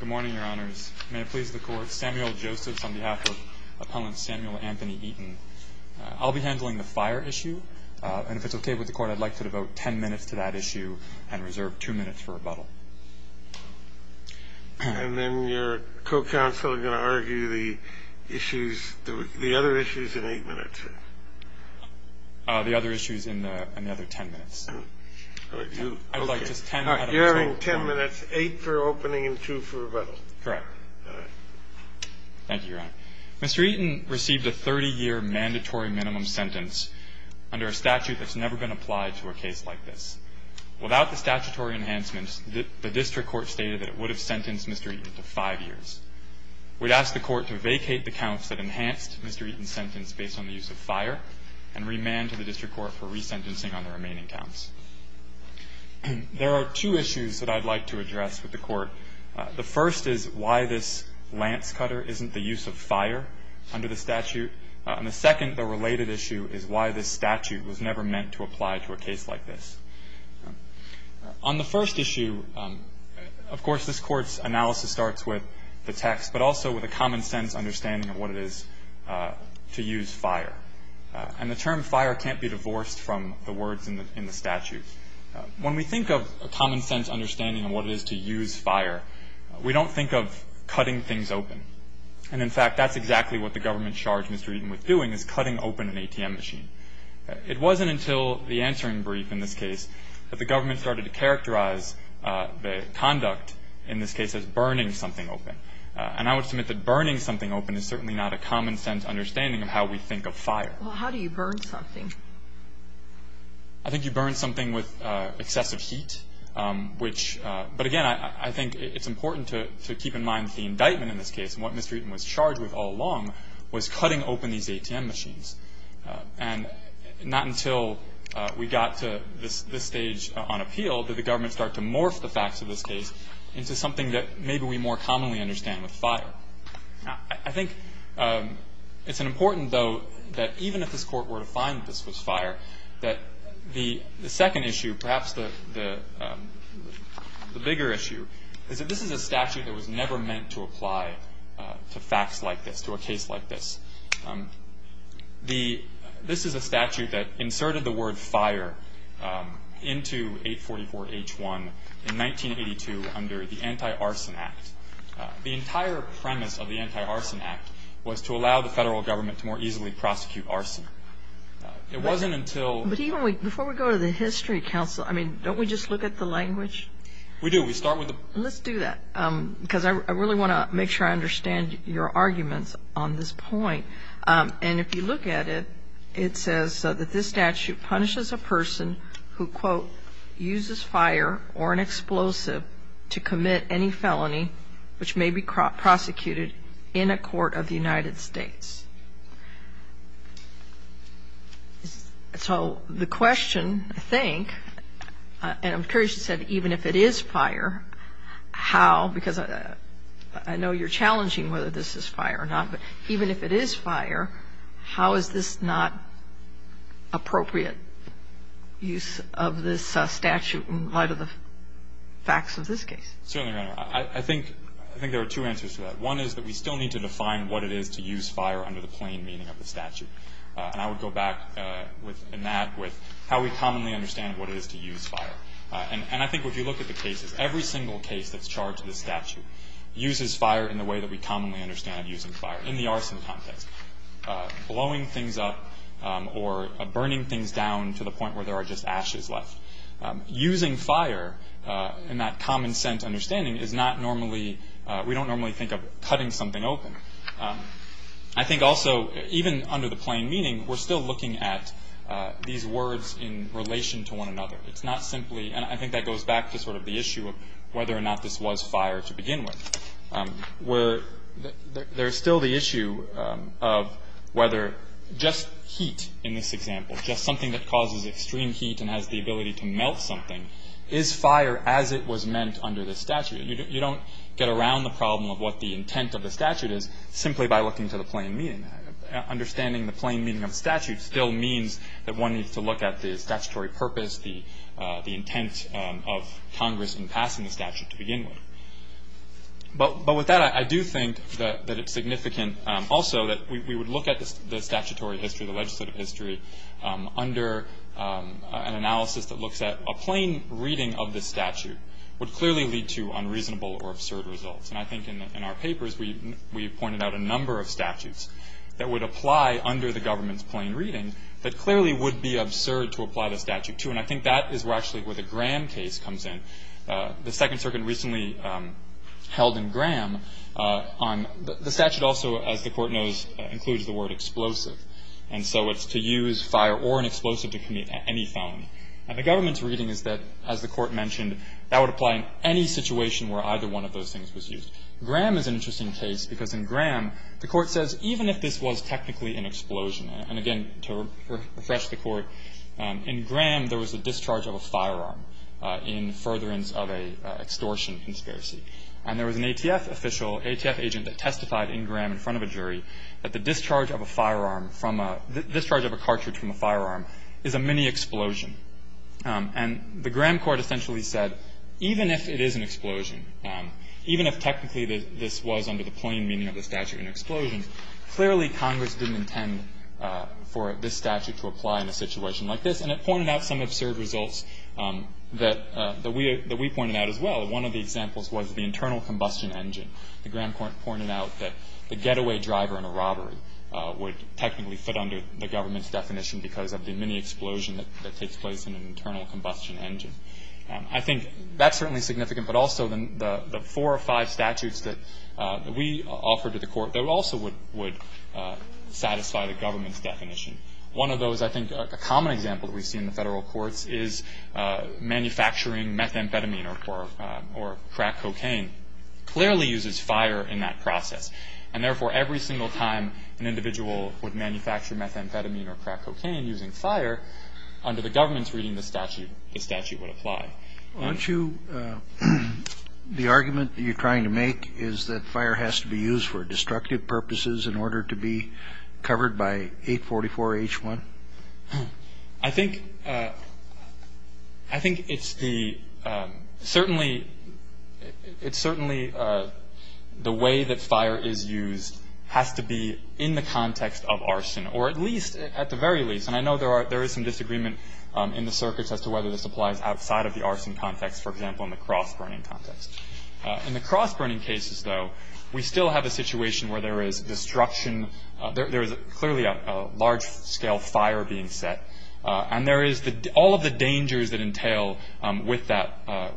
Good morning, Your Honors. May it please the Court, Samuel Joseph on behalf of Appellant Samuel Anthony Eaton. I'll be handling the fire issue. And if it's okay with the Court, I'd like to devote ten minutes to that issue and reserve two minutes for rebuttal. And then your co-counsel is going to argue the other issues in eight minutes? The other issues in the other ten minutes. I would like just ten minutes. You're having ten minutes, eight for opening and two for rebuttal. Correct. All right. Thank you, Your Honor. Mr. Eaton received a 30-year mandatory minimum sentence under a statute that's never been applied to a case like this. Without the statutory enhancements, the district court stated that it would have sentenced Mr. Eaton to five years. We'd ask the Court to vacate the counts that enhanced Mr. Eaton's sentence based on the use of fire and remand to the district court for resentencing on the remaining counts. There are two issues that I'd like to address with the Court. The first is why this lance cutter isn't the use of fire under the statute. And the second, the related issue, is why this statute was never meant to apply to a case like this. On the first issue, of course, this Court's analysis starts with the text, but also with a common-sense understanding of what it is to use fire. And the term fire can't be divorced from the words in the statute. When we think of a common-sense understanding of what it is to use fire, we don't think of cutting things open. And, in fact, that's exactly what the government charged Mr. Eaton with doing, is cutting open an ATM machine. It wasn't until the answering brief in this case that the government started to characterize the conduct, in this case, as burning something open. And I would submit that burning something open is certainly not a common-sense understanding of how we think of fire. Well, how do you burn something? I think you burn something with excessive heat, which – but, again, I think it's important to keep in mind that the indictment in this case, and what Mr. Eaton was charged with all along, was cutting open these ATM machines. And not until we got to this stage on appeal did the government start to morph the facts of this case into something that maybe we more commonly understand with fire. I think it's important, though, that even if this Court were to find that this was fire, that the second issue, perhaps the bigger issue, is that this is a statute that was never meant to apply to facts like this, to a case like this. This is a statute that inserted the word fire into 844-H1 in 1982 under the Anti-Arson Act. The entire premise of the Anti-Arson Act was to allow the federal government to more easily prosecute arson. It wasn't until – But even before we go to the History Council, I mean, don't we just look at the language? We do. We start with the – And if you look at it, it says that this statute punishes a person who, quote, uses fire or an explosive to commit any felony, which may be prosecuted in a court of the United States. So the question, I think, and I'm curious, you said even if it is fire, how? Because I know you're challenging whether this is fire or not, but even if it is fire, how is this not appropriate use of this statute in light of the facts of this case? Certainly, Your Honor. I think there are two answers to that. One is that we still need to define what it is to use fire under the plain meaning of the statute. And I would go back in that with how we commonly understand what it is to use fire. And I think if you look at the cases, every single case that's charged in this statute uses fire in the way that we commonly understand using fire, in the arson context, blowing things up or burning things down to the point where there are just ashes left. Using fire in that common-sense understanding is not normally – we don't normally think of cutting something open. I think also, even under the plain meaning, we're still looking at these words in relation to one another. It's not simply – and I think that goes back to sort of the issue of whether or not this was fire to begin with. There's still the issue of whether just heat in this example, just something that causes extreme heat and has the ability to melt something, is fire as it was meant under the statute. You don't get around the problem of what the intent of the statute is simply by looking to the plain meaning. Understanding the plain meaning of the statute still means that one needs to look at the statutory purpose, that is, the intent of Congress in passing the statute to begin with. But with that, I do think that it's significant also that we would look at the statutory history, the legislative history, under an analysis that looks at a plain reading of the statute would clearly lead to unreasonable or absurd results. And I think in our papers, we pointed out a number of statutes that would apply under the government's plain reading that clearly would be absurd to apply the statute to. And I think that is actually where the Graham case comes in. The Second Circuit recently held in Graham on – the statute also, as the Court knows, includes the word explosive. And so it's to use fire or an explosive to commit any felony. And the government's reading is that, as the Court mentioned, that would apply in any situation where either one of those things was used. Graham is an interesting case because in Graham, the Court says even if this was technically an explosion – and again, to refresh the Court, in Graham, there was a discharge of a firearm in furtherance of an extortion conspiracy. And there was an ATF official, an ATF agent, that testified in Graham in front of a jury that the discharge of a firearm from a – the discharge of a cartridge from a firearm is a mini-explosion. And the Graham court essentially said even if it is an explosion, even if technically this was under the plain meaning of the statute an explosion, clearly Congress didn't intend for this statute to apply in a situation like this. And it pointed out some absurd results that we pointed out as well. One of the examples was the internal combustion engine. The Graham court pointed out that the getaway driver in a robbery would technically fit under the government's definition because of the mini-explosion that takes place in an internal combustion engine. I think that's certainly significant. But also, the four or five statutes that we offer to the Court, they also would satisfy the government's definition. One of those, I think, a common example that we see in the Federal courts is manufacturing methamphetamine or crack cocaine clearly uses fire in that process. And therefore, every single time an individual would manufacture methamphetamine or crack cocaine using fire, under the government's reading, the statute would apply. Aren't you the argument that you're trying to make is that fire has to be used for destructive purposes in order to be covered by 844-H1? I think it's the certainly the way that fire is used has to be in the context of arson or at least, at the very least, and I know there is some disagreement in the circuits as to whether this applies outside of the arson context, for example, in the cross-burning context. In the cross-burning cases, though, we still have a situation where there is destruction. There is clearly a large-scale fire being set. And there is all of the dangers that entail with that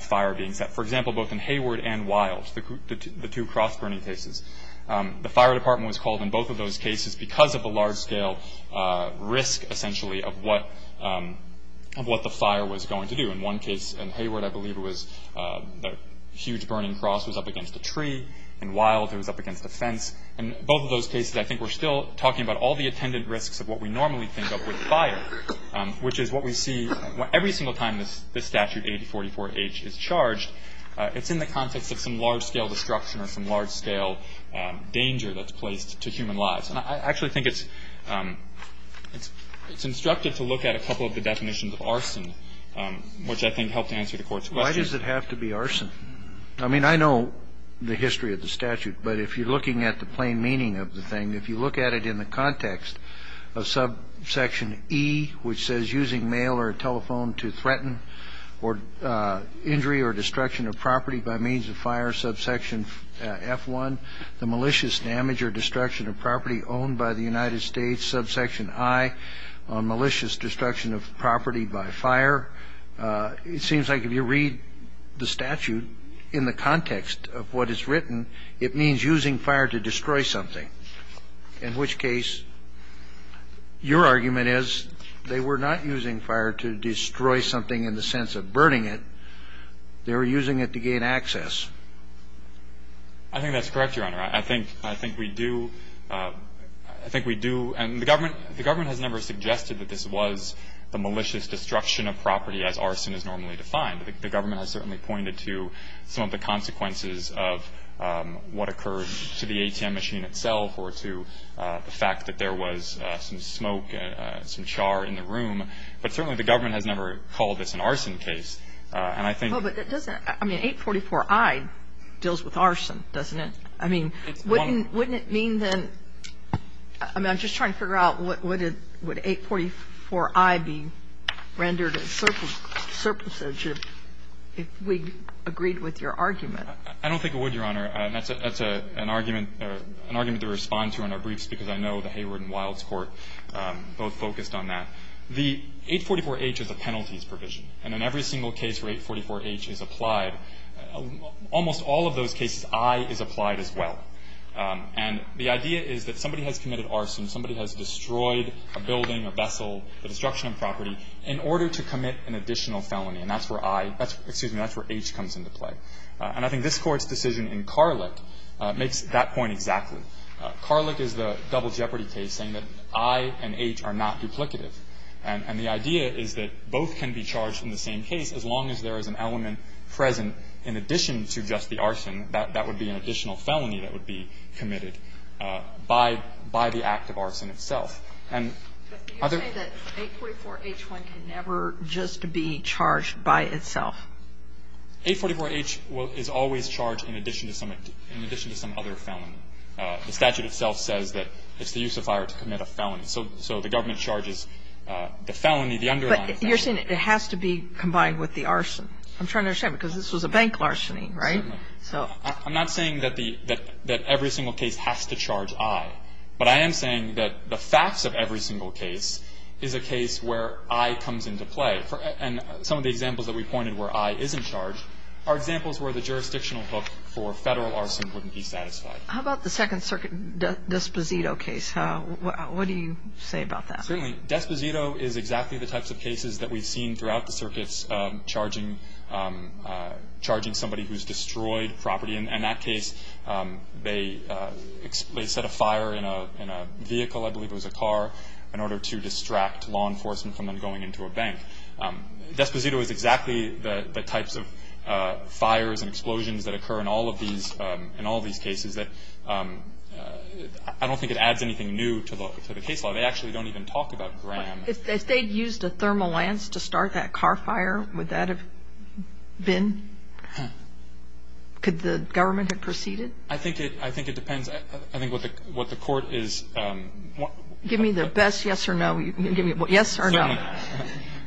fire being set. For example, both in Hayward and Wild, the two cross-burning cases, the fire department was called in both of those cases because of the large-scale risk, essentially, of what the fire was going to do. In one case in Hayward, I believe it was a huge burning cross was up against a tree. In Wild, it was up against a fence. In both of those cases, I think we're still talking about all the attendant risks of what we normally think of with fire, which is what we see every single time this statute, 844-H, is charged. It's in the context of some large-scale destruction or some large-scale danger that's placed to human lives. And I actually think it's instructive to look at a couple of the definitions of arson, which I think help to answer the Court's question. Why does it have to be arson? I mean, I know the history of the statute. But if you're looking at the plain meaning of the thing, if you look at it in the context of subsection E, which says using mail or a telephone to threaten or injury or destruction of property by means of fire, subsection F1, the malicious damage or destruction of property owned by the United States, subsection I, malicious destruction of property by fire, it seems like if you read the statute in the context of what is written, it means using fire to destroy something, in which case your argument is they were not using fire to destroy something in the sense of burning it. They were using it to gain access. I think that's correct, Your Honor. I think we do. I think we do. And the government has never suggested that this was the malicious destruction of property as arson is normally defined. The government has certainly pointed to some of the consequences of what occurred to the ATM machine itself or to the fact that there was some smoke, some char in the room. But certainly the government has never called this an arson case. And I think the government isn't being heard, so I do think the print school And if it's something in which the E'd Rather H deals with domestic violence, And I think that the judges have to have that looked at and I judge that, you know, most of the judges say, no, but 854-b files rules against us. And I think we have to have an in-general Reading paper looking at this. And I think that's correct. The case where 844-h is applied, almost all of those cases, I is applied as well. And the idea is that somebody has committed arson, somebody has destroyed a building, a vessel, the destruction of property, in order to commit an additional felony, and that's where I, excuse me, that's where H comes into play. And I think this Court's decision in Carleck makes that point exactly. Carleck is the double jeopardy case saying that I and H are not duplicative. And the idea is that both can be charged in the same case, as long as there is an element present in addition to just the arson. That would be an additional felony that would be committed by the act of arson itself. And other — But you say that 844-h1 can never just be charged by itself. 844-h is always charged in addition to some other felony. The statute itself says that it's the use of fire to commit a felony. So the government charges the felony, the underlying felony. But you're saying it has to be combined with the arson. I'm trying to understand, because this was a bank larceny, right? Certainly. So — I'm not saying that the — that every single case has to charge I. But I am saying that the facts of every single case is a case where I comes into play. And some of the examples that we pointed where I isn't charged are examples where the jurisdictional hook for Federal arson wouldn't be satisfied. How about the Second Circuit D'Esposito case? What do you say about that? Certainly. D'Esposito is exactly the types of cases that we've seen throughout the circuits charging somebody who's destroyed property. And in that case, they set a fire in a vehicle, I believe it was a car, in order to distract law enforcement from them going into a bank. D'Esposito is exactly the types of fires and explosions that occur in all of these — I don't think it adds anything new to the case law. They actually don't even talk about Graham. If they'd used a thermal lance to start that car fire, would that have been — could the government have proceeded? I think it — I think it depends. I think what the Court is — Give me the best yes or no. Give me a yes or no.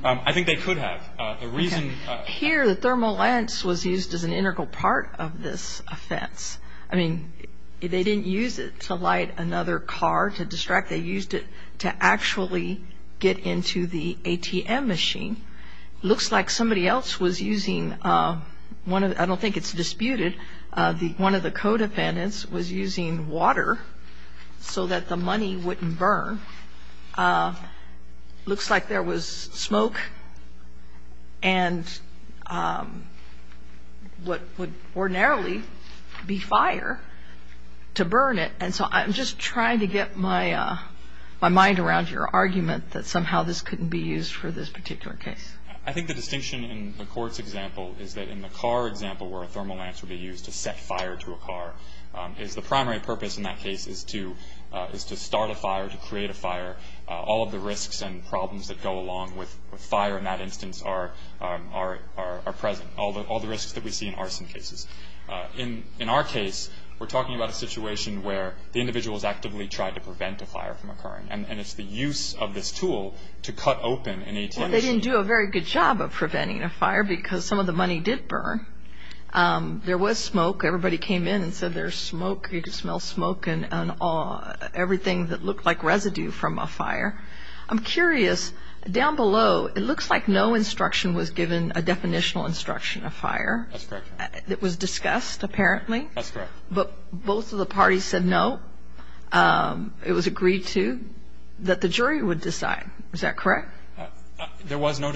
I think they could have. The reason — Here, the thermal lance was used as an integral part of this offense. I mean, they didn't use it to light another car to distract. They used it to actually get into the ATM machine. Looks like somebody else was using one of — I don't think it's disputed — one of the co-defendants was using water so that the money wouldn't burn. Looks like there was smoke and what would ordinarily be fire to burn it. And so I'm just trying to get my mind around your argument that somehow this couldn't be used for this particular case. I think the distinction in the Court's example is that in the car example, where a thermal lance would be used to set fire to a car, is the primary purpose in that case is to — is to start a fire, to create a fire. All of the risks and problems that go along with fire in that instance are present. All the risks that we see in arson cases. In our case, we're talking about a situation where the individual has actively tried to prevent a fire from occurring. And it's the use of this tool to cut open an ATM machine. Well, they didn't do a very good job of preventing a fire because some of the money did burn. There was smoke. Everybody came in and said there's smoke. You could smell smoke and everything that looked like residue from a fire. I'm curious. Down below, it looks like no instruction was given, a definitional instruction of fire. That's correct. It was discussed, apparently. That's correct. But both of the parties said no. It was agreed to, that the jury would decide. Is that correct? There was no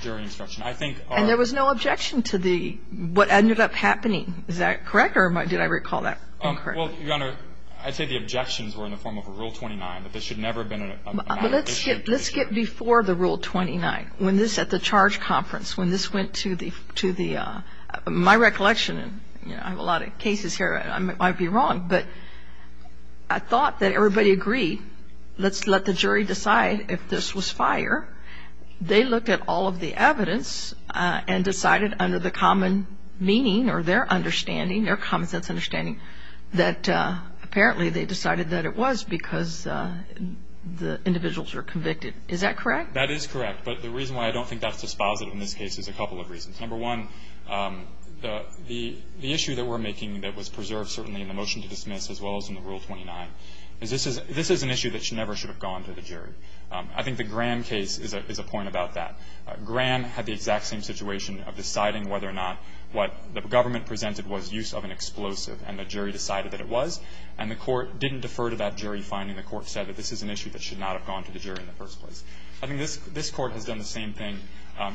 jury instruction. And there was no objection to what ended up happening. Is that correct? Or did I recall that incorrectly? Well, Your Honor, I'd say the objections were in the form of a Rule 29. That this should never have been a matter of issue. Let's get before the Rule 29. When this, at the charge conference, when this went to the, my recollection, and I have a lot of cases here, I might be wrong. But I thought that everybody agreed. Let's let the jury decide if this was fire. They looked at all of the evidence and decided under the common meaning, or their understanding, their common sense understanding, that apparently they decided that it was because the individuals were convicted. Is that correct? That is correct. But the reason why I don't think that's dispositive in this case is a couple of reasons. Number one, the issue that we're making that was preserved, certainly, in the motion to dismiss, as well as in the Rule 29, is this is an issue that never should have gone to the jury. I think the Graham case is a point about that. Graham had the exact same situation of deciding whether or not what the government presented was use of an explosive, and the jury decided that it was. And the court didn't defer to that jury finding. The court said that this is an issue that should not have gone to the jury in the first place. I think this court has done the same thing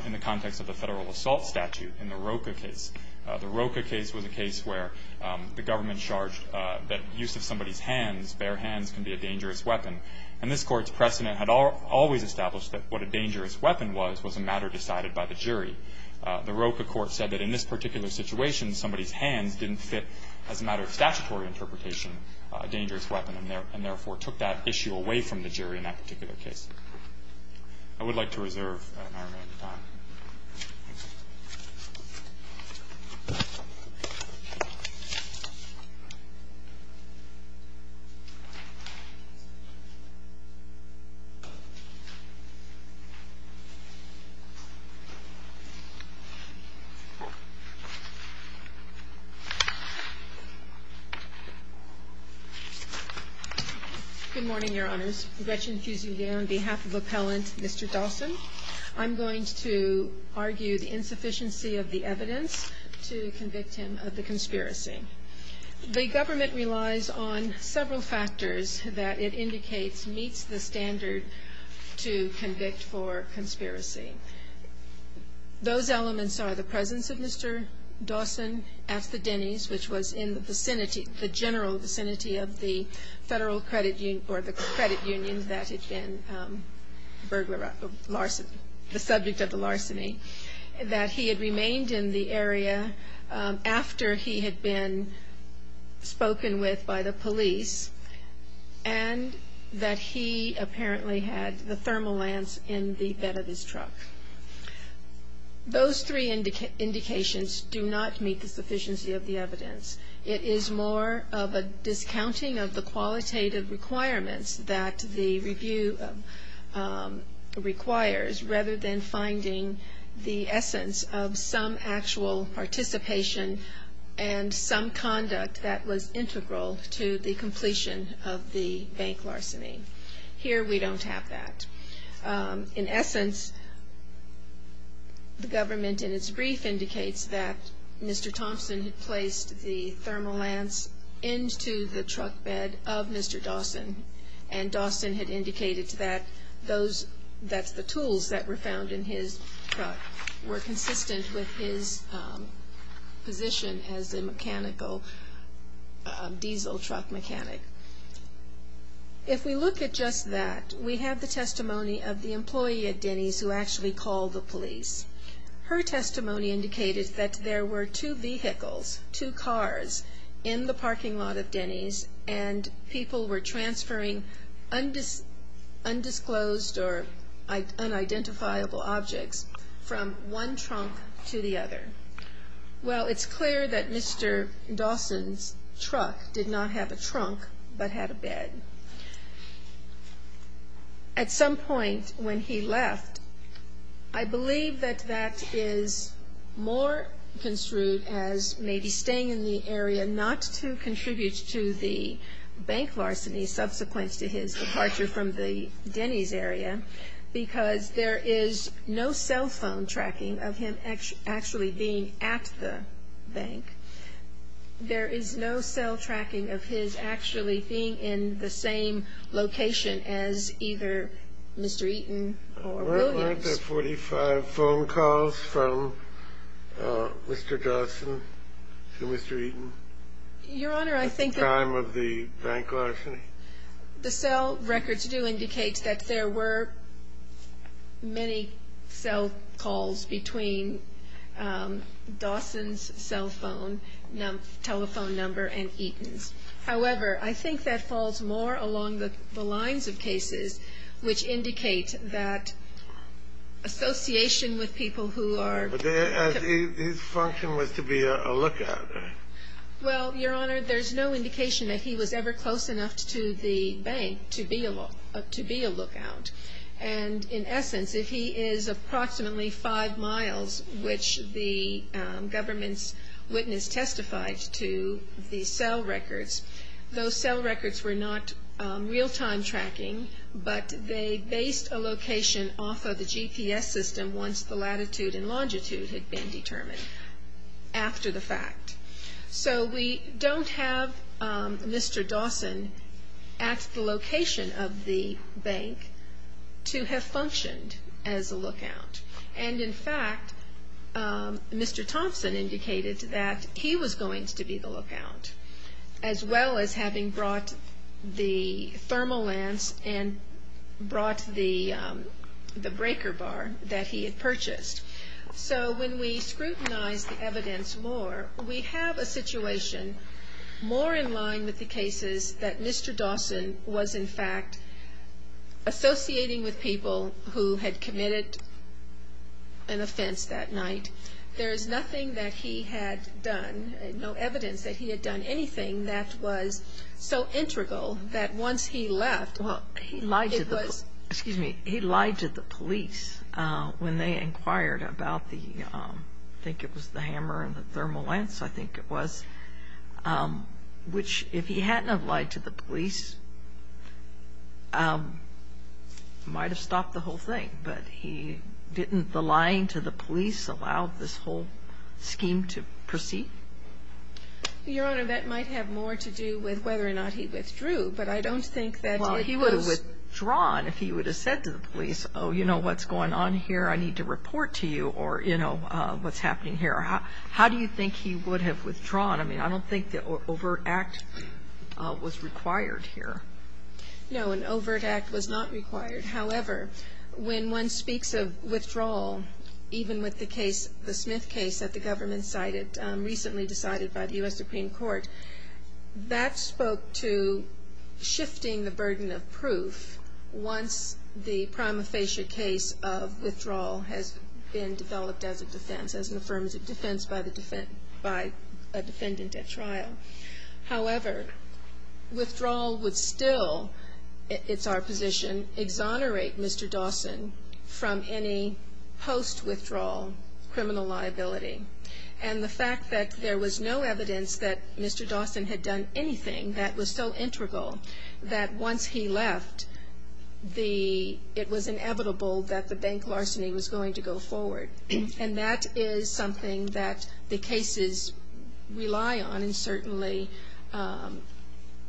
in the context of the federal assault statute, in the Roka case. The Roka case was a case where the government charged that use of somebody's hands, bare hands, can be a dangerous weapon. And this court's precedent had always established that what a dangerous weapon was, was a matter decided by the jury. The Roka court said that in this particular situation, somebody's hands didn't fit, as a matter of statutory interpretation, a dangerous weapon, and therefore, took that issue away from the jury in that particular case. I would like to reserve my remaining time. Good morning, your honors. Gretchen Fusilier on behalf of Appellant Mr. Dawson. I'm going to argue the insufficiency of the evidence to convict him of the conspiracy. The government relies on several factors that it indicates meets the standard to convict for conspiracy. Those elements are the presence of Mr. Dawson at the Denny's, which was in the vicinity, the general vicinity of the federal credit union, or the credit union that had been the subject of the larceny. That he had remained in the area after he had been spoken with by the police, and that he apparently had the thermal lance in the bed of his truck. Those three indications do not meet the sufficiency of the evidence. It is more of a discounting of the qualitative requirements that the review requires, rather than finding the essence of some actual participation and some conduct that was integral to the completion of the bank larceny. Here, we don't have that. In essence, the government, in its brief, indicates that Mr. Thompson had placed the thermal lance into the truck bed of Mr. Dawson, and Dawson had indicated that the tools that were found in his truck were consistent with his position as a diesel truck mechanic. If we look at just that, we have the testimony of the employee at Denny's who actually called the police. Her testimony indicated that there were two vehicles, two cars, in the parking lot of Denny's, and people were transferring undisclosed or unidentifiable objects from one trunk to the other. Well, it's clear that Mr. Dawson's truck did not have a trunk, but had a bed. At some point when he left, I believe that that is more construed as maybe staying in the area, not to contribute to the bank larceny subsequent to his departure from the Denny's area, because there is no cell phone tracking of him actually being at the bank. There is no cell tracking of his actually being in the same location as either Mr. Eaton or Williams. Were there 45 phone calls from Mr. Dawson to Mr. Eaton at the time of the bank larceny? The cell records do indicate that there were many cell calls between Dawson's cell phone, telephone number, and Eaton's. However, I think that falls more along the lines of cases, which indicate that association with people who are- But his function was to be a lookout, right? Well, Your Honor, there's no indication that he was ever close enough to the bank to be a lookout. And in essence, if he is approximately five miles, which the government's witness testified to the cell records, those cell records were not real-time tracking, but they based a location off of the GPS system once the latitude and longitude had been determined after the fact. So we don't have Mr. Dawson at the location of the bank to have functioned as a lookout. And in fact, Mr. Thompson indicated that he was going to be the lookout, as well as having brought the thermal lance and brought the breaker bar that he had purchased. So when we scrutinize the evidence more, we have a situation more in line with the cases that Mr. Dawson was in fact associating with people who had committed an offense that night. There is nothing that he had done, no evidence that he had done anything that was so integral that once he left, it was- Well, he lied to the police when they inquired about the, I think it was the hammer and the thermal lance, I think it was, which if he hadn't have lied to the police, might have stopped the whole thing. But he didn't, the lying to the police allowed this whole scheme to proceed? Your Honor, that might have more to do with whether or not he withdrew, but I don't think that- Well, he would have withdrawn if he would have said to the police, oh, you know what's going on here, I need to report to you, or, you know, what's happening here. How do you think he would have withdrawn? I mean, I don't think the overt act was required here. No, an overt act was not required. However, when one speaks of withdrawal, even with the Smith case that the government cited, recently decided by the U.S. Supreme Court, that spoke to shifting the burden of proof once the prima facie case of withdrawal has been developed as a defense, However, withdrawal would still, it's our position, exonerate Mr. Dawson from any post-withdrawal criminal liability. And the fact that there was no evidence that Mr. Dawson had done anything that was so integral that once he left, it was inevitable that the bank larceny was going to go forward. And that is something that the cases rely on, and certainly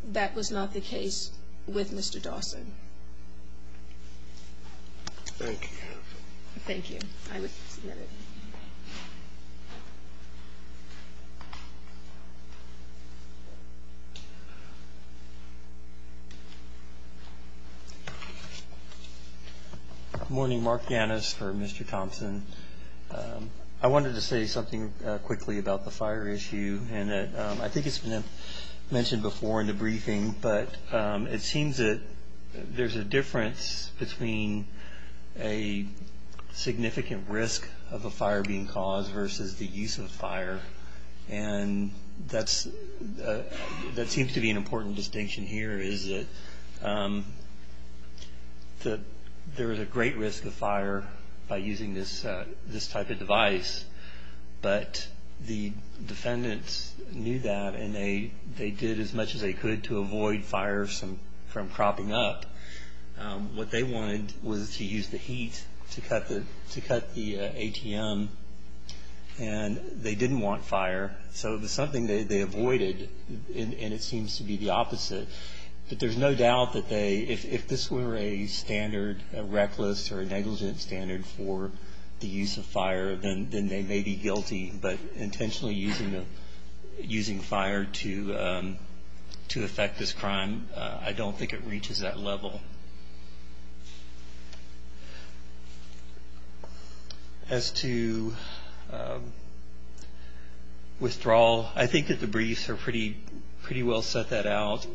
that was not the case with Mr. Dawson. Thank you. Thank you. I would submit it. Good morning, Mark Gannis for Mr. Thompson. I wanted to say something quickly about the fire issue, and I think it's been mentioned before in the briefing, but it seems that there's a difference between a significant risk of a fire being caused versus the use of fire. And that seems to be an important distinction here, is that there is a great risk of fire by using this type of device. But the defendants knew that, and they did as much as they could to avoid fire from cropping up. What they wanted was to use the heat to cut the ATM, and they didn't want fire. So it was something they avoided, and it seems to be the opposite. But there's no doubt that if this were a standard, a reckless or a negligent standard for the use of fire, then they may be guilty. But intentionally using fire to affect this crime, I don't think it reaches that level. As to withdrawal, I think that the briefs pretty well set that out.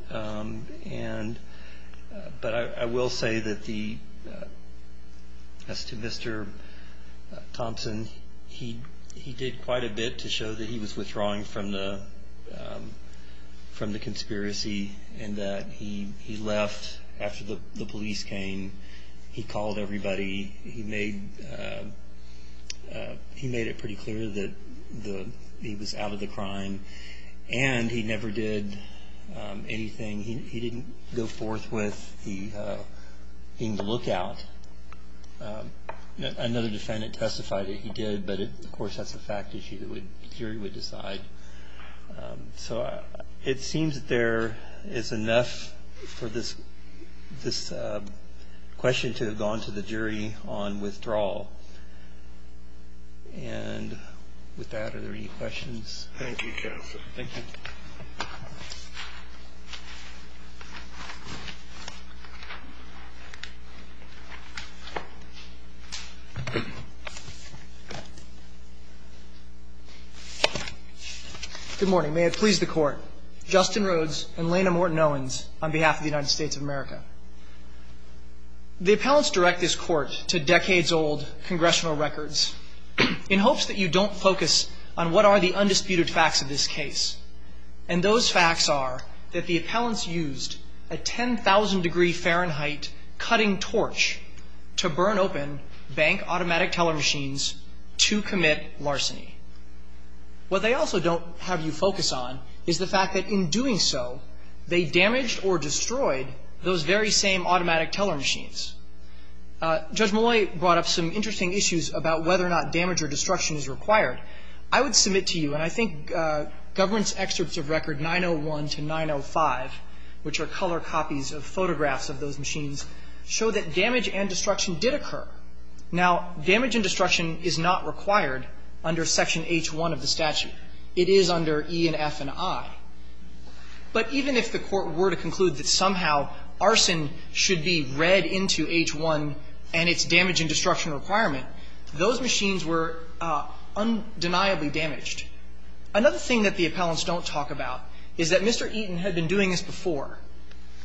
But I will say that as to Mr. Thompson, he did quite a bit to show that he was withdrawing from the conspiracy, and that he left after the police came. He called everybody. He made it pretty clear that he was out of the crime. And he never did anything. He didn't go forth with being the lookout. Another defendant testified that he did, but of course that's a fact issue. The jury would decide. So it seems that there is enough for this question to have gone to the jury on withdrawal. And with that, are there any questions? Thank you, Counsel. Thank you. Good morning. May it please the Court. Justin Rhodes and Lena Morton Owens on behalf of the United States of America. The appellants direct this Court to decades-old congressional records in hopes that you don't focus on what are the undisputed facts of this case. And those facts are that the appellants used a 10,000 degree Fahrenheit cutting torch to burn open bank automatic teller machines to commit larceny. What they also don't have you focus on is the fact that in doing so, they damaged or destroyed those very same automatic teller machines. Judge Molloy brought up some interesting issues about whether or not damage or destruction is required. I would submit to you, and I think government's excerpts of record 901 to 905, which are color copies of photographs of those machines, show that damage and destruction did occur. Now, damage and destruction is not required under Section H1 of the statute. It is under E and F and I. But even if the Court were to conclude that somehow arson should be read into the Section H1 and its damage and destruction requirement, those machines were undeniably damaged. Another thing that the appellants don't talk about is that Mr. Eaton had been doing this before.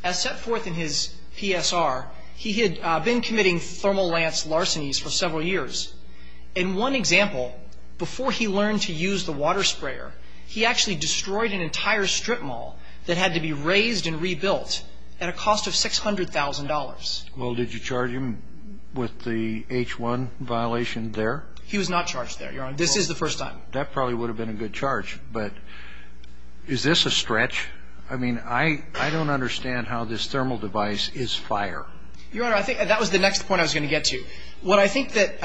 As set forth in his PSR, he had been committing thermal lance larcenies for several years. In one example, before he learned to use the water sprayer, he actually destroyed an entire strip mall that had to be razed and rebuilt at a cost of $600,000. Well, did you charge him with the H1 violation there? He was not charged there, Your Honor. This is the first time. That probably would have been a good charge. But is this a stretch? I mean, I don't understand how this thermal device is fire. Your Honor, I think that was the next point I was going to get to. What I think that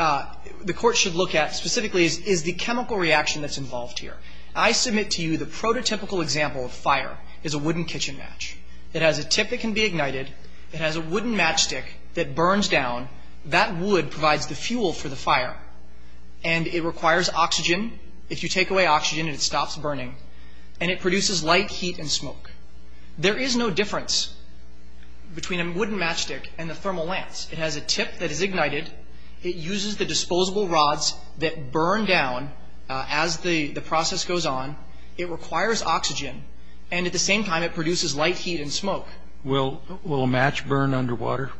the Court should look at specifically is the chemical reaction that's involved here. I submit to you the prototypical example of fire is a wooden kitchen match. It has a tip that can be ignited. It has a wooden matchstick that burns down. That wood provides the fuel for the fire. And it requires oxygen. If you take away oxygen, it stops burning. And it produces light, heat, and smoke. There is no difference between a wooden matchstick and a thermal lance. It has a tip that is ignited. It uses the disposable rods that burn down as the process goes on. It requires oxygen. And at the same time, it produces light, heat, and smoke. Will a match burn underwater?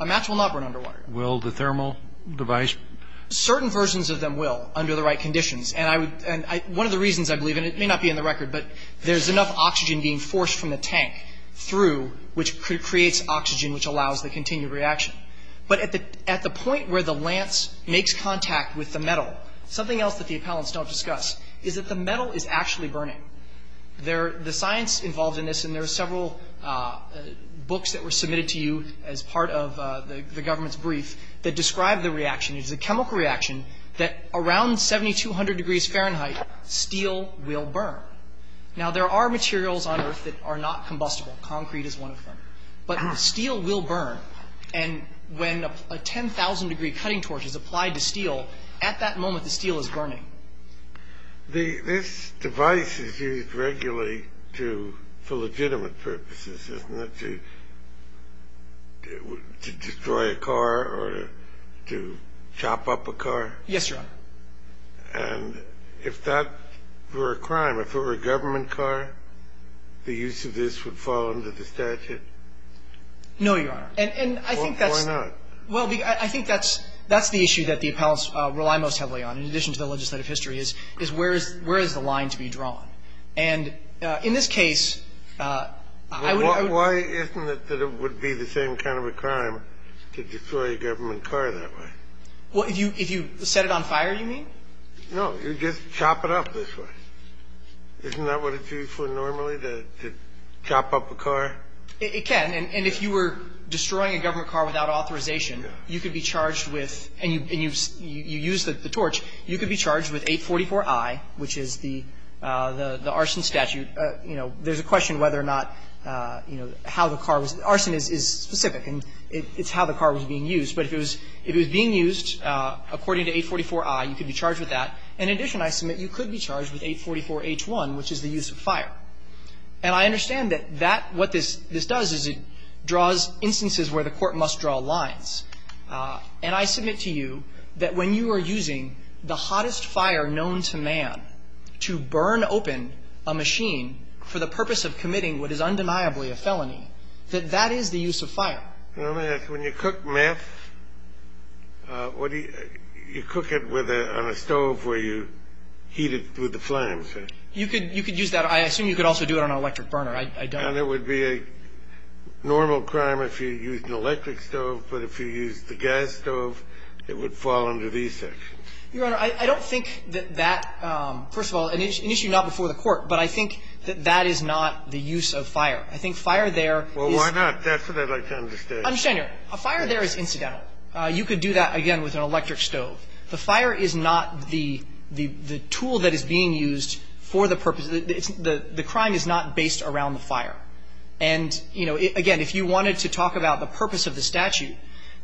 A match will not burn underwater. Will the thermal device? Certain versions of them will under the right conditions. And one of the reasons, I believe, and it may not be in the record, but there's enough oxygen being forced from the tank through which creates oxygen which allows the continued reaction. But at the point where the lance makes contact with the metal, something else that the appellants don't discuss is that the metal is actually burning. The science involved in this, and there are several books that were submitted to you as part of the government's brief that describe the reaction. It's a chemical reaction that around 7,200 degrees Fahrenheit, steel will burn. Now, there are materials on earth that are not combustible. Concrete is one of them. But steel will burn. And when a 10,000-degree cutting torch is applied to steel, at that moment, the steel is burning. This device is used regularly for legitimate purposes, isn't it? To destroy a car or to chop up a car? Yes, Your Honor. And if that were a crime, if it were a government car, the use of this would fall under the statute? No, Your Honor. And I think that's the issue that the appellants rely most heavily on, in addition to the legislative history, is where is the line to be drawn? And in this case, I wouldn't... Well, why isn't it that it would be the same kind of a crime to destroy a government car that way? Well, if you set it on fire, you mean? No, you just chop it up this way. Isn't that what it's used for normally, to chop up a car? It can. And if you were destroying a government car without authorization, you could be charged with, and you use the torch, you could be charged with 844I, which is the arson statute. You know, there's a question whether or not, you know, how the car was, arson is specific and it's how the car was being used. But if it was being used according to 844I, you could be charged with that. In addition, I submit, you could be charged with 844H1, which is the use of fire. And I understand that that, what this does is it draws instances where the court must draw lines. And I submit to you that when you are using the hottest fire known to man to burn open a machine for the purpose of committing what is undeniably a felony, that that is the use of fire. Let me ask, when you cook meth, what do you, you cook it with a, on a stove where you heat it through the flames? You could, you could use that. I assume you could also do it on an electric burner. I don't. And it would be a normal crime if you used an electric stove. But if you used the gas stove, it would fall under these sections. Your Honor, I don't think that that, first of all, an issue not before the Court. But I think that that is not the use of fire. I think fire there is. Well, why not? That's what I'd like to understand. I understand, Your Honor. A fire there is incidental. You could do that, again, with an electric stove. The fire is not the, the tool that is being used for the purpose. The crime is not based around the fire. And, you know, again, if you wanted to talk about the purpose of the statute,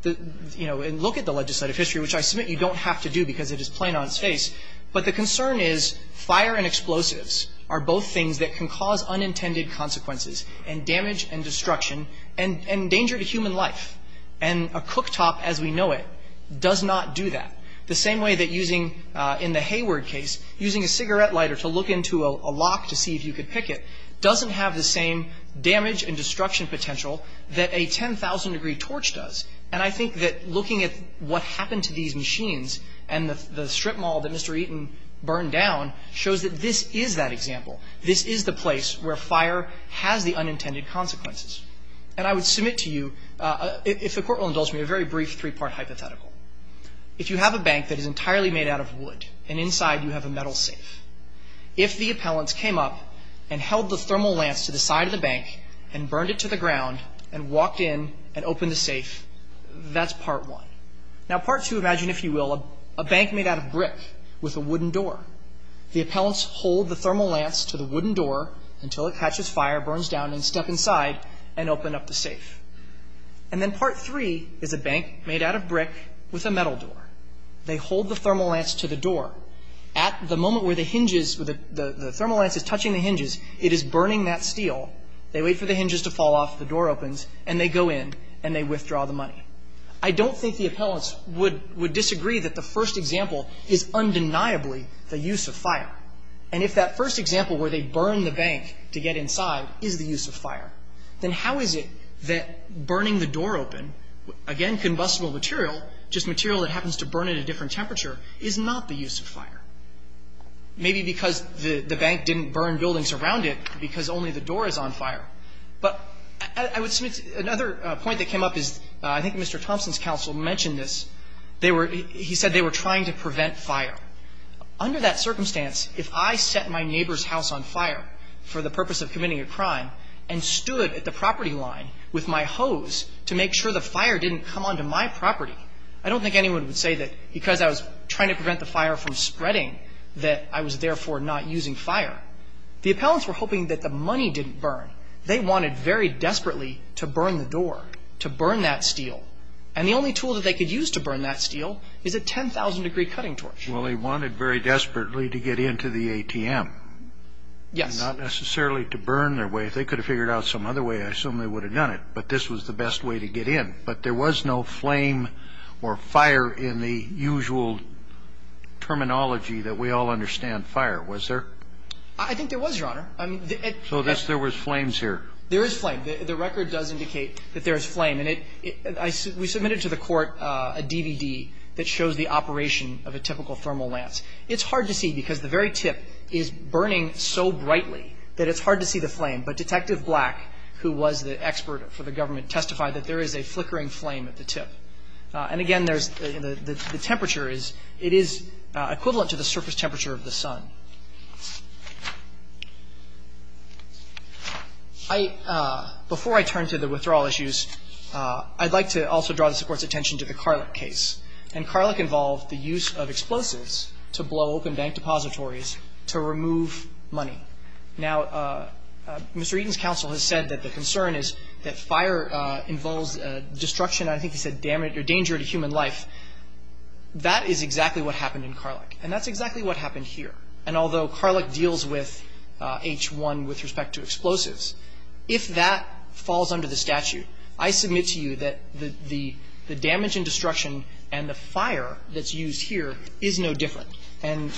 you know, and look at the legislative history, which I submit you don't have to do because it is plain on its face. But the concern is fire and explosives are both things that can cause unintended consequences and damage and destruction and danger to human life. And a cooktop, as we know it, does not do that. The same way that using, in the Hayward case, using a cigarette lighter to look into a lock to see if you could pick it doesn't have the same damage and destruction potential that a 10,000-degree torch does. And I think that looking at what happened to these machines and the strip mall that Mr. Eaton burned down shows that this is that example. This is the place where fire has the unintended consequences. And I would submit to you, if the Court will indulge me, a very brief three-part hypothetical. If you have a bank that is entirely made out of wood and inside you have a metal safe, if the appellants came up and held the thermal lance to the side of the bank and burned it to the ground and walked in and opened the safe, that's Part 1. Now, Part 2, imagine, if you will, a bank made out of brick with a wooden door. The appellants hold the thermal lance to the wooden door until it catches fire, burns down, and step inside and open up the safe. And then Part 3 is a bank made out of brick with a metal door. They hold the thermal lance to the door. At the moment where the hinges, the thermal lance is touching the hinges, it is burning that steel. They wait for the hinges to fall off, the door opens, and they go in and they withdraw the money. I don't think the appellants would disagree that the first example is undeniably the use of fire. And if that first example where they burn the bank to get inside is the use of fire, then how is it that burning the door open, again, combustible material, just material that happens to burn at a different temperature is not the use of fire? Maybe because the bank didn't burn buildings around it because only the door is on fire. But I would submit another point that came up is, I think Mr. Thompson's counsel mentioned this, they were, he said they were trying to prevent fire. Under that circumstance, if I set my neighbor's house on fire for the purpose of committing a crime and stood at the property line with my hose to make sure the fire didn't come onto my property, I don't think anyone would say that because I was trying to prevent the fire from spreading that I was therefore not using fire. The appellants were hoping that the money didn't burn. They wanted very desperately to burn the door, to burn that steel. And the only tool that they could use to burn that steel is a 10,000-degree cutting torch. Well, they wanted very desperately to get into the ATM. Yes. Not necessarily to burn their way. If they could have figured out some other way, I assume they would have done it. But this was the best way to get in. But there was no flame or fire in the usual terminology that we all understand fire, was there? I think there was, Your Honor. So there was flames here. There is flame. The record does indicate that there is flame. And we submitted to the court a DVD that shows the operation of a typical thermal lance. It's hard to see because the very tip is burning so brightly that it's hard to see the flame. But Detective Black, who was the expert for the government, testified that there is a flickering flame at the tip. And again, the temperature is equivalent to the surface temperature of the sun. Before I turn to the withdrawal issues, I'd like to also draw this Court's attention to the Carlick case. And Carlick involved the use of explosives to blow open bank depositories to remove money. Now, Mr. Eaton's counsel has said that the concern is that fire involves destruction. I think he said danger to human life. That is exactly what happened in Carlick. And that's exactly what happened here. And although Carlick deals with H1 with respect to explosives, if that falls under the statute, I submit to you that the damage and destruction and the fire that's used here is no different. And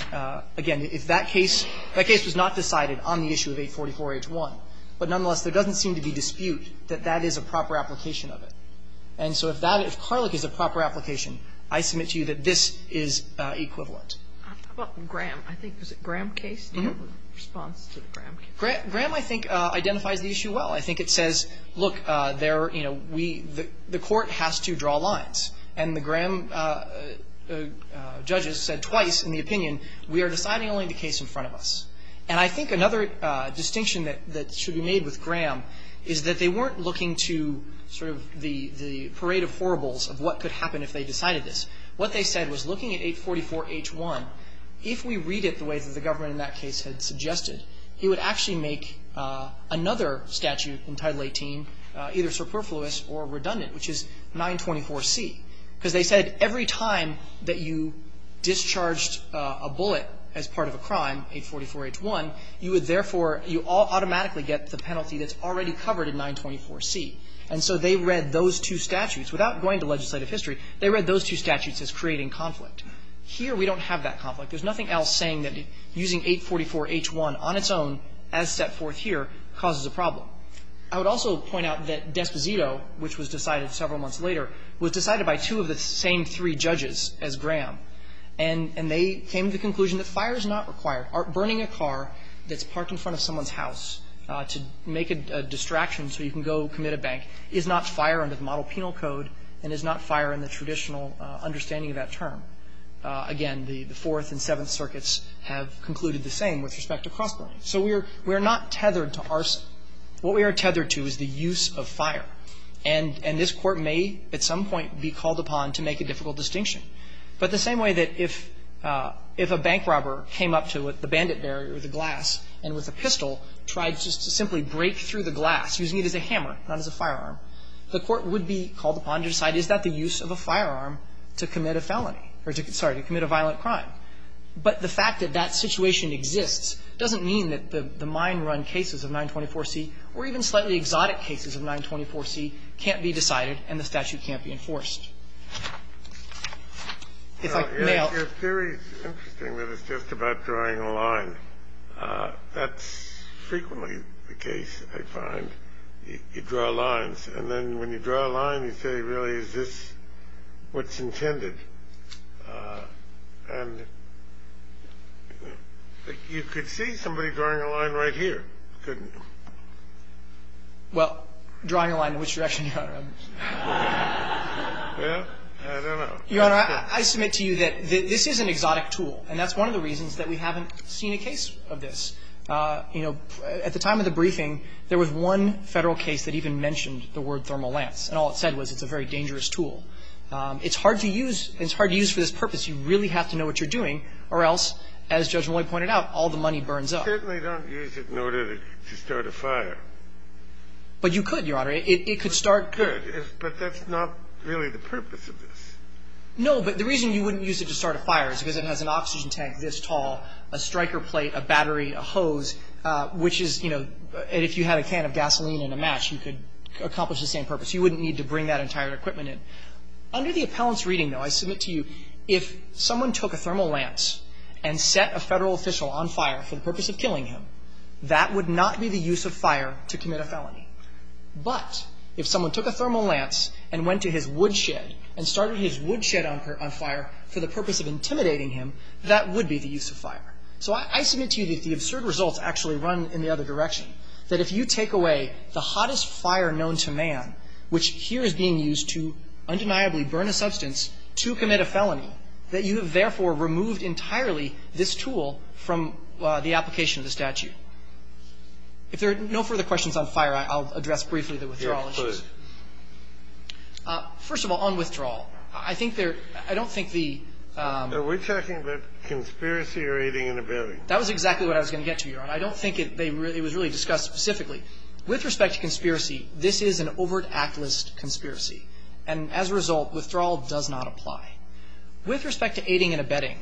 again, if that case, that case was not decided on the issue of 844-H1. But nonetheless, there doesn't seem to be dispute that that is a proper application of it. And so if that, if Carlick is a proper application, I submit to you that this is equivalent. How about Graham? I think, was it Graham case? Do you have a response to the Graham case? Graham, I think, identifies the issue well. I think it says, look, there are, you know, we, the Court has to draw lines. And the Graham judges said twice in the opinion, we are deciding only the case in front of us. And I think another distinction that should be made with Graham is that they weren't looking to sort of the parade of horribles of what could happen if they decided this. What they said was looking at 844-H1, if we read it the way that the government in that case had suggested, it would actually make another statute in Title 18 either superfluous or redundant, which is 924-C, because they said every time that you discharged a bullet as part of a crime, 844-H1, you would therefore, you automatically get the penalty that's already covered in 924-C. And so they read those two statutes, without going to legislative history, they read those two statutes as creating conflict. Here we don't have that conflict. There's nothing else saying that using 844-H1 on its own as set forth here causes a problem. I would also point out that Desposito, which was decided several months later, was decided by two of the same three judges as Graham. And they came to the conclusion that fire is not required. Burning a car that's parked in front of someone's house to make a distraction so you can go commit a bank is not fire under the model penal code and is not fire in the traditional understanding of that term. Again, the Fourth and Seventh Circuits have concluded the same with respect to cross-burning. So we are not tethered to arson. What we are tethered to is the use of fire. And this Court may at some point be called upon to make a difficult distinction. But the same way that if a bank robber came up to the bandit bearer with a glass and with a pistol tried just to simply break through the glass using it as a hammer, not as a firearm, the Court would be called upon to decide is that the use of a firearm to commit a felony or to commit a violent crime. But the fact that that situation exists doesn't mean that the mine-run cases of 924C or even slightly exotic cases of 924C can't be decided and the statute can't be enforced. If I may... Your theory is interesting that it's just about drawing a line. That's frequently the case I find. You draw lines. And then when you draw a line, you say, really, is this what's intended? And you could see somebody drawing a line right here, couldn't you? Well, drawing a line in which direction, Your Honor? Well, I don't know. Your Honor, I submit to you that this is an exotic tool. And that's one of the reasons that we haven't seen a case of this. You know, at the time of the briefing, there was one Federal case that even mentioned the word thermal lance. And all it said was it's a very dangerous tool. It's hard to use. It's hard to use for this purpose. You really have to know what you're doing or else, as Judge Molloy pointed out, all the money burns up. I certainly don't use it in order to start a fire. But you could, Your Honor. It could start... I could. But that's not really the purpose of this. No, but the reason you wouldn't use it to start a fire is because it has an oxygen tank this tall, a striker plate, a battery, a hose, which is, you know, and if you had a can of gasoline and a match, you could accomplish the same purpose. You wouldn't need to bring that entire equipment in. Under the appellant's reading, though, I submit to you, if someone took a thermal lance and set a Federal official on fire for the purpose of killing him, that would not be the use of fire to commit a felony. But if someone took a thermal lance and went to his woodshed and started his woodshed on fire for the purpose of intimidating him, that would be the use of fire. So I submit to you that the absurd results actually run in the other direction, that if you take away the hottest fire known to man, which here is being used to undeniably burn a substance to commit a felony, that you have therefore removed entirely this tool from the application of the statute. If there are no further questions on fire, I'll address briefly the withdrawal issues. Your Honor, please. First of all, on withdrawal, I think there... I don't think the... We're talking about conspiracy or aiding and abetting. That was exactly what I was going to get to, Your Honor. I don't think it was really discussed specifically. With respect to conspiracy, this is an overt act list conspiracy. And as a result, withdrawal does not apply. With respect to aiding and abetting,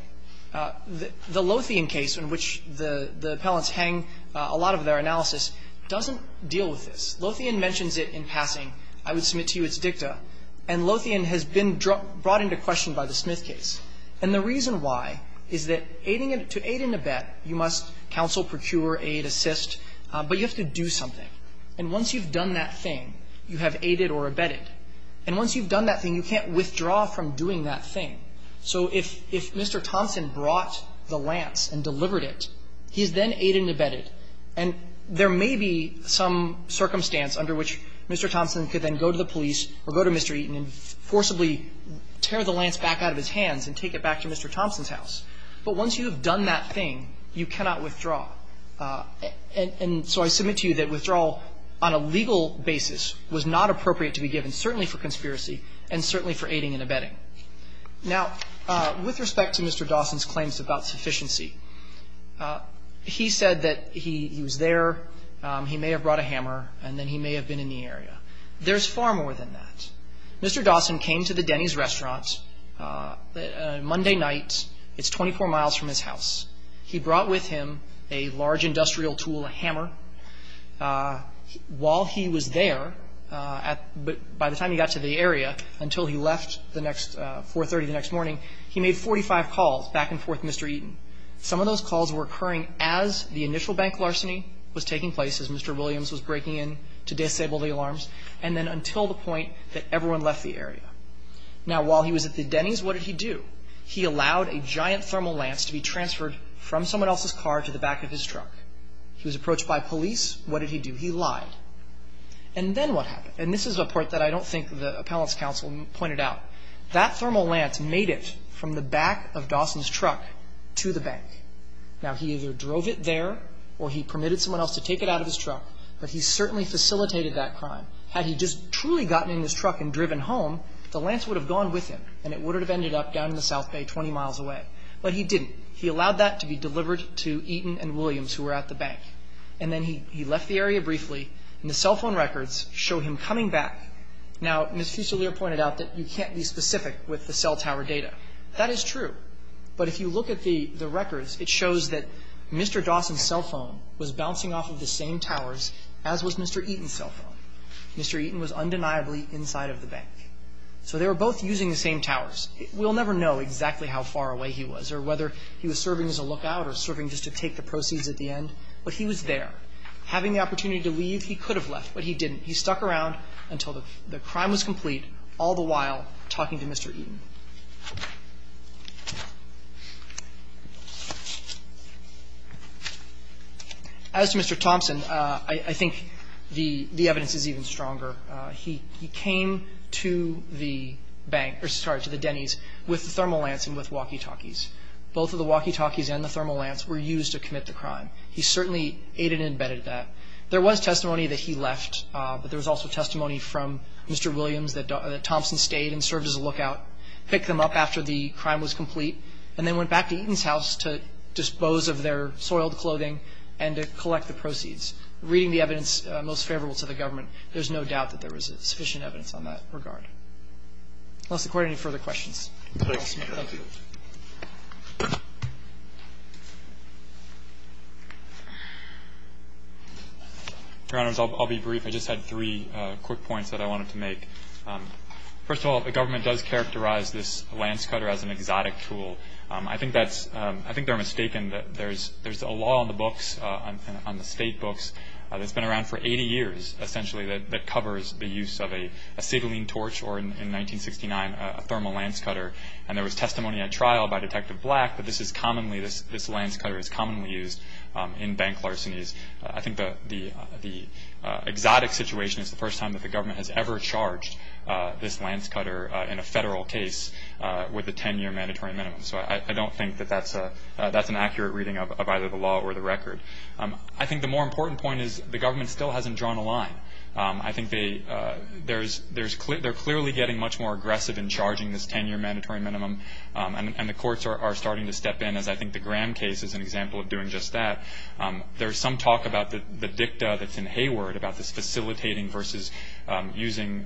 the Lothian case, in which the appellants hang a lot of their analysis, doesn't deal with this. Lothian mentions it in passing. I would submit to you its dicta. And Lothian has been brought into question by the Smith case. And the reason why is that to aid and abet, you must counsel, procure, aid, assist. But you have to do something. And once you've done that thing, you have aided or abetted. And once you've done that thing, you can't withdraw from doing that thing. So if Mr. Thompson brought the lance and delivered it, he's then aided and abetted. And there may be some circumstance under which Mr. Thompson could then go to the police or go to Mr. Eaton and forcibly tear the lance back out of his hands and take it back to Mr. Thompson's house. But once you've done that thing, you cannot withdraw. And so I submit to you that withdrawal on a legal basis was not appropriate to be given, certainly for conspiracy and certainly for aiding and abetting. Now, with respect to Mr. Dawson's claims about sufficiency, he said that he was there, he may have brought a hammer, and then he may have been in the area. There's far more than that. Mr. Dawson came to the Denny's restaurant Monday night. It's 24 miles from his house. He brought with him a large industrial tool, a hammer. While he was there, by the time he got to the area, until he left 4.30 the next morning, he made 45 calls back and forth to Mr. Eaton. Some of those calls were occurring as the initial bank larceny was taking place, as Mr. Williams was breaking in to disable the alarms, and then until the point that everyone left the area. Now, while he was at the Denny's, what did he do? He allowed a giant thermal lance to be transferred from someone else's car to the back of his truck. He was approached by police. What did he do? He lied. And then what happened? And this is a point that I don't think the appellant's counsel pointed out. That thermal lance made it from the back of Dawson's truck to the bank. Now, he either drove it there, or he permitted someone else to take it out of his truck, but he certainly facilitated that crime. Had he just truly gotten in his truck and driven home, the lance would have gone with him, and it would have ended up down in the South Bay, 20 miles away. But he didn't. He allowed that to be delivered to Eaton and Williams, who were at the bank. And then he left the area briefly, and the cell phone records show him coming back. Now, Ms. Fusilier pointed out that you can't be specific with the cell tower data. That is true. But if you look at the records, it shows that Mr. Dawson's cell phone was bouncing off of the same towers as was Mr. Eaton's cell phone. Mr. Eaton was undeniably inside of the bank. So they were both using the same towers. We'll never know exactly how far away he was or whether he was serving as a lookout or serving just to take the proceeds at the end, but he was there. Having the opportunity to leave, he could have left, but he didn't. He stuck around until the crime was complete, all the while talking to Mr. Eaton. As to Mr. Thompson, I think the evidence is even stronger. He came to the bank or, sorry, to the Denny's with the Thermal Lance and with walkie-talkies. Both of the walkie-talkies and the Thermal Lance were used to commit the crime. He certainly aided and abetted that. There was testimony that he left, but there was also testimony from Mr. Williams that Thompson stayed and served as a lookout, picked them up after the crime was complete, and then went back to Eaton's house to dispose of their soiled clothing and to collect the proceeds. Reading the evidence most favorable to the government, there's no doubt that there was sufficient evidence on that regard. Unless the Court had any further questions. Thank you. Your Honors, I'll be brief. I just had three quick points that I wanted to make. First of all, the government does characterize this lance cutter as an exotic tool. I think they're mistaken. There's a law on the books, on the state books, that's been around for 80 years, essentially, that covers the use of a signaling torch or, in 1969, a thermal lance cutter. There was testimony at trial by Detective Black that this lance cutter is commonly used in bank larcenies. I think the exotic situation is the first time that the government has ever charged this lance cutter in a federal case with a 10-year mandatory minimum. So I don't think that that's an accurate reading of either the law or the record. I think the more important point is the government still hasn't drawn a line. I think they're clearly getting much more aggressive in charging this 10-year mandatory minimum, and the courts are starting to step in, as I think the Graham case is an example of doing just that. There's some talk about the dicta that's in Hayward about this facilitating versus using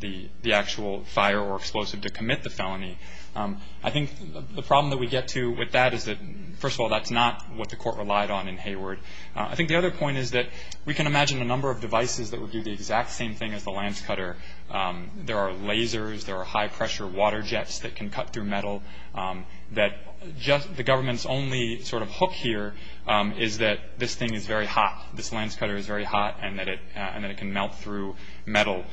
the actual fire or explosive to commit the felony. I think the problem that we get to with that is that, first of all, that's not what the court relied on in Hayward. I think the other point is that we can imagine a number of devices that would do the exact same thing as the lance cutter. There are lasers. There are high-pressure water jets that can cut through metal. The government's only sort of hook here is that this thing is very hot. This lance cutter is very hot and that it can melt through metal.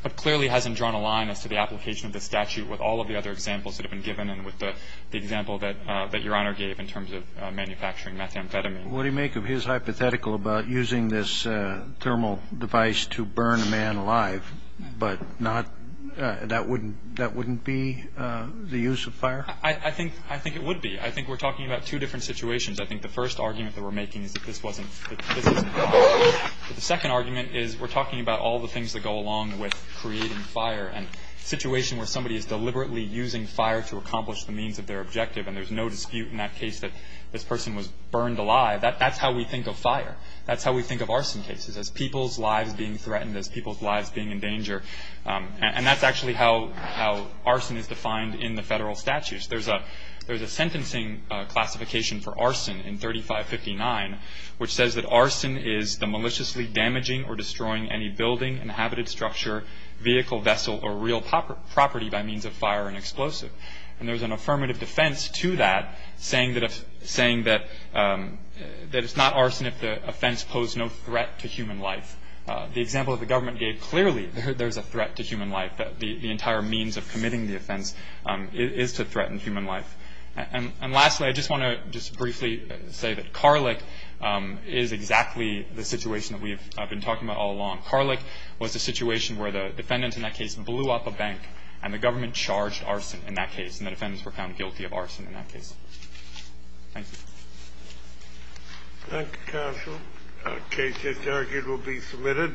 But clearly hasn't drawn a line as to the application of this statute with all of the other examples that have been given and with the example that Your Honor gave in terms of manufacturing methamphetamine. Kennedy. What do you make of his hypothetical about using this thermal device to burn a man alive, but that wouldn't be the use of fire? I think it would be. I think we're talking about two different situations. I think the first argument that we're making is that this isn't fire. The second argument is we're talking about all the things that go along with creating fire and a situation where somebody is deliberately using fire to accomplish the means of their objective and there's no dispute in that case that this person was burned alive, that's how we think of fire. That's how we think of arson cases, as people's lives being threatened, as people's lives being in danger. And that's actually how arson is defined in the federal statutes. There's a sentencing classification for arson in 3559, which says that arson is the maliciously damaging or destroying any building, inhabited structure, vehicle, vessel, or real property by means of fire and explosive. And there's an affirmative defense to that saying that it's not arson if the offense posed no threat to human life. The example that the government gave clearly there's a threat to human life. The entire means of committing the offense is to threaten human life. And lastly, I just want to just briefly say that Carlick is exactly the situation that we have been talking about all along. Carlick was a situation where the defendant in that case blew up a bank, and the government charged arson in that case, and the defendants were found guilty of arson in that case. Thank you. Thank you, Counsel. The case is argued to be submitted.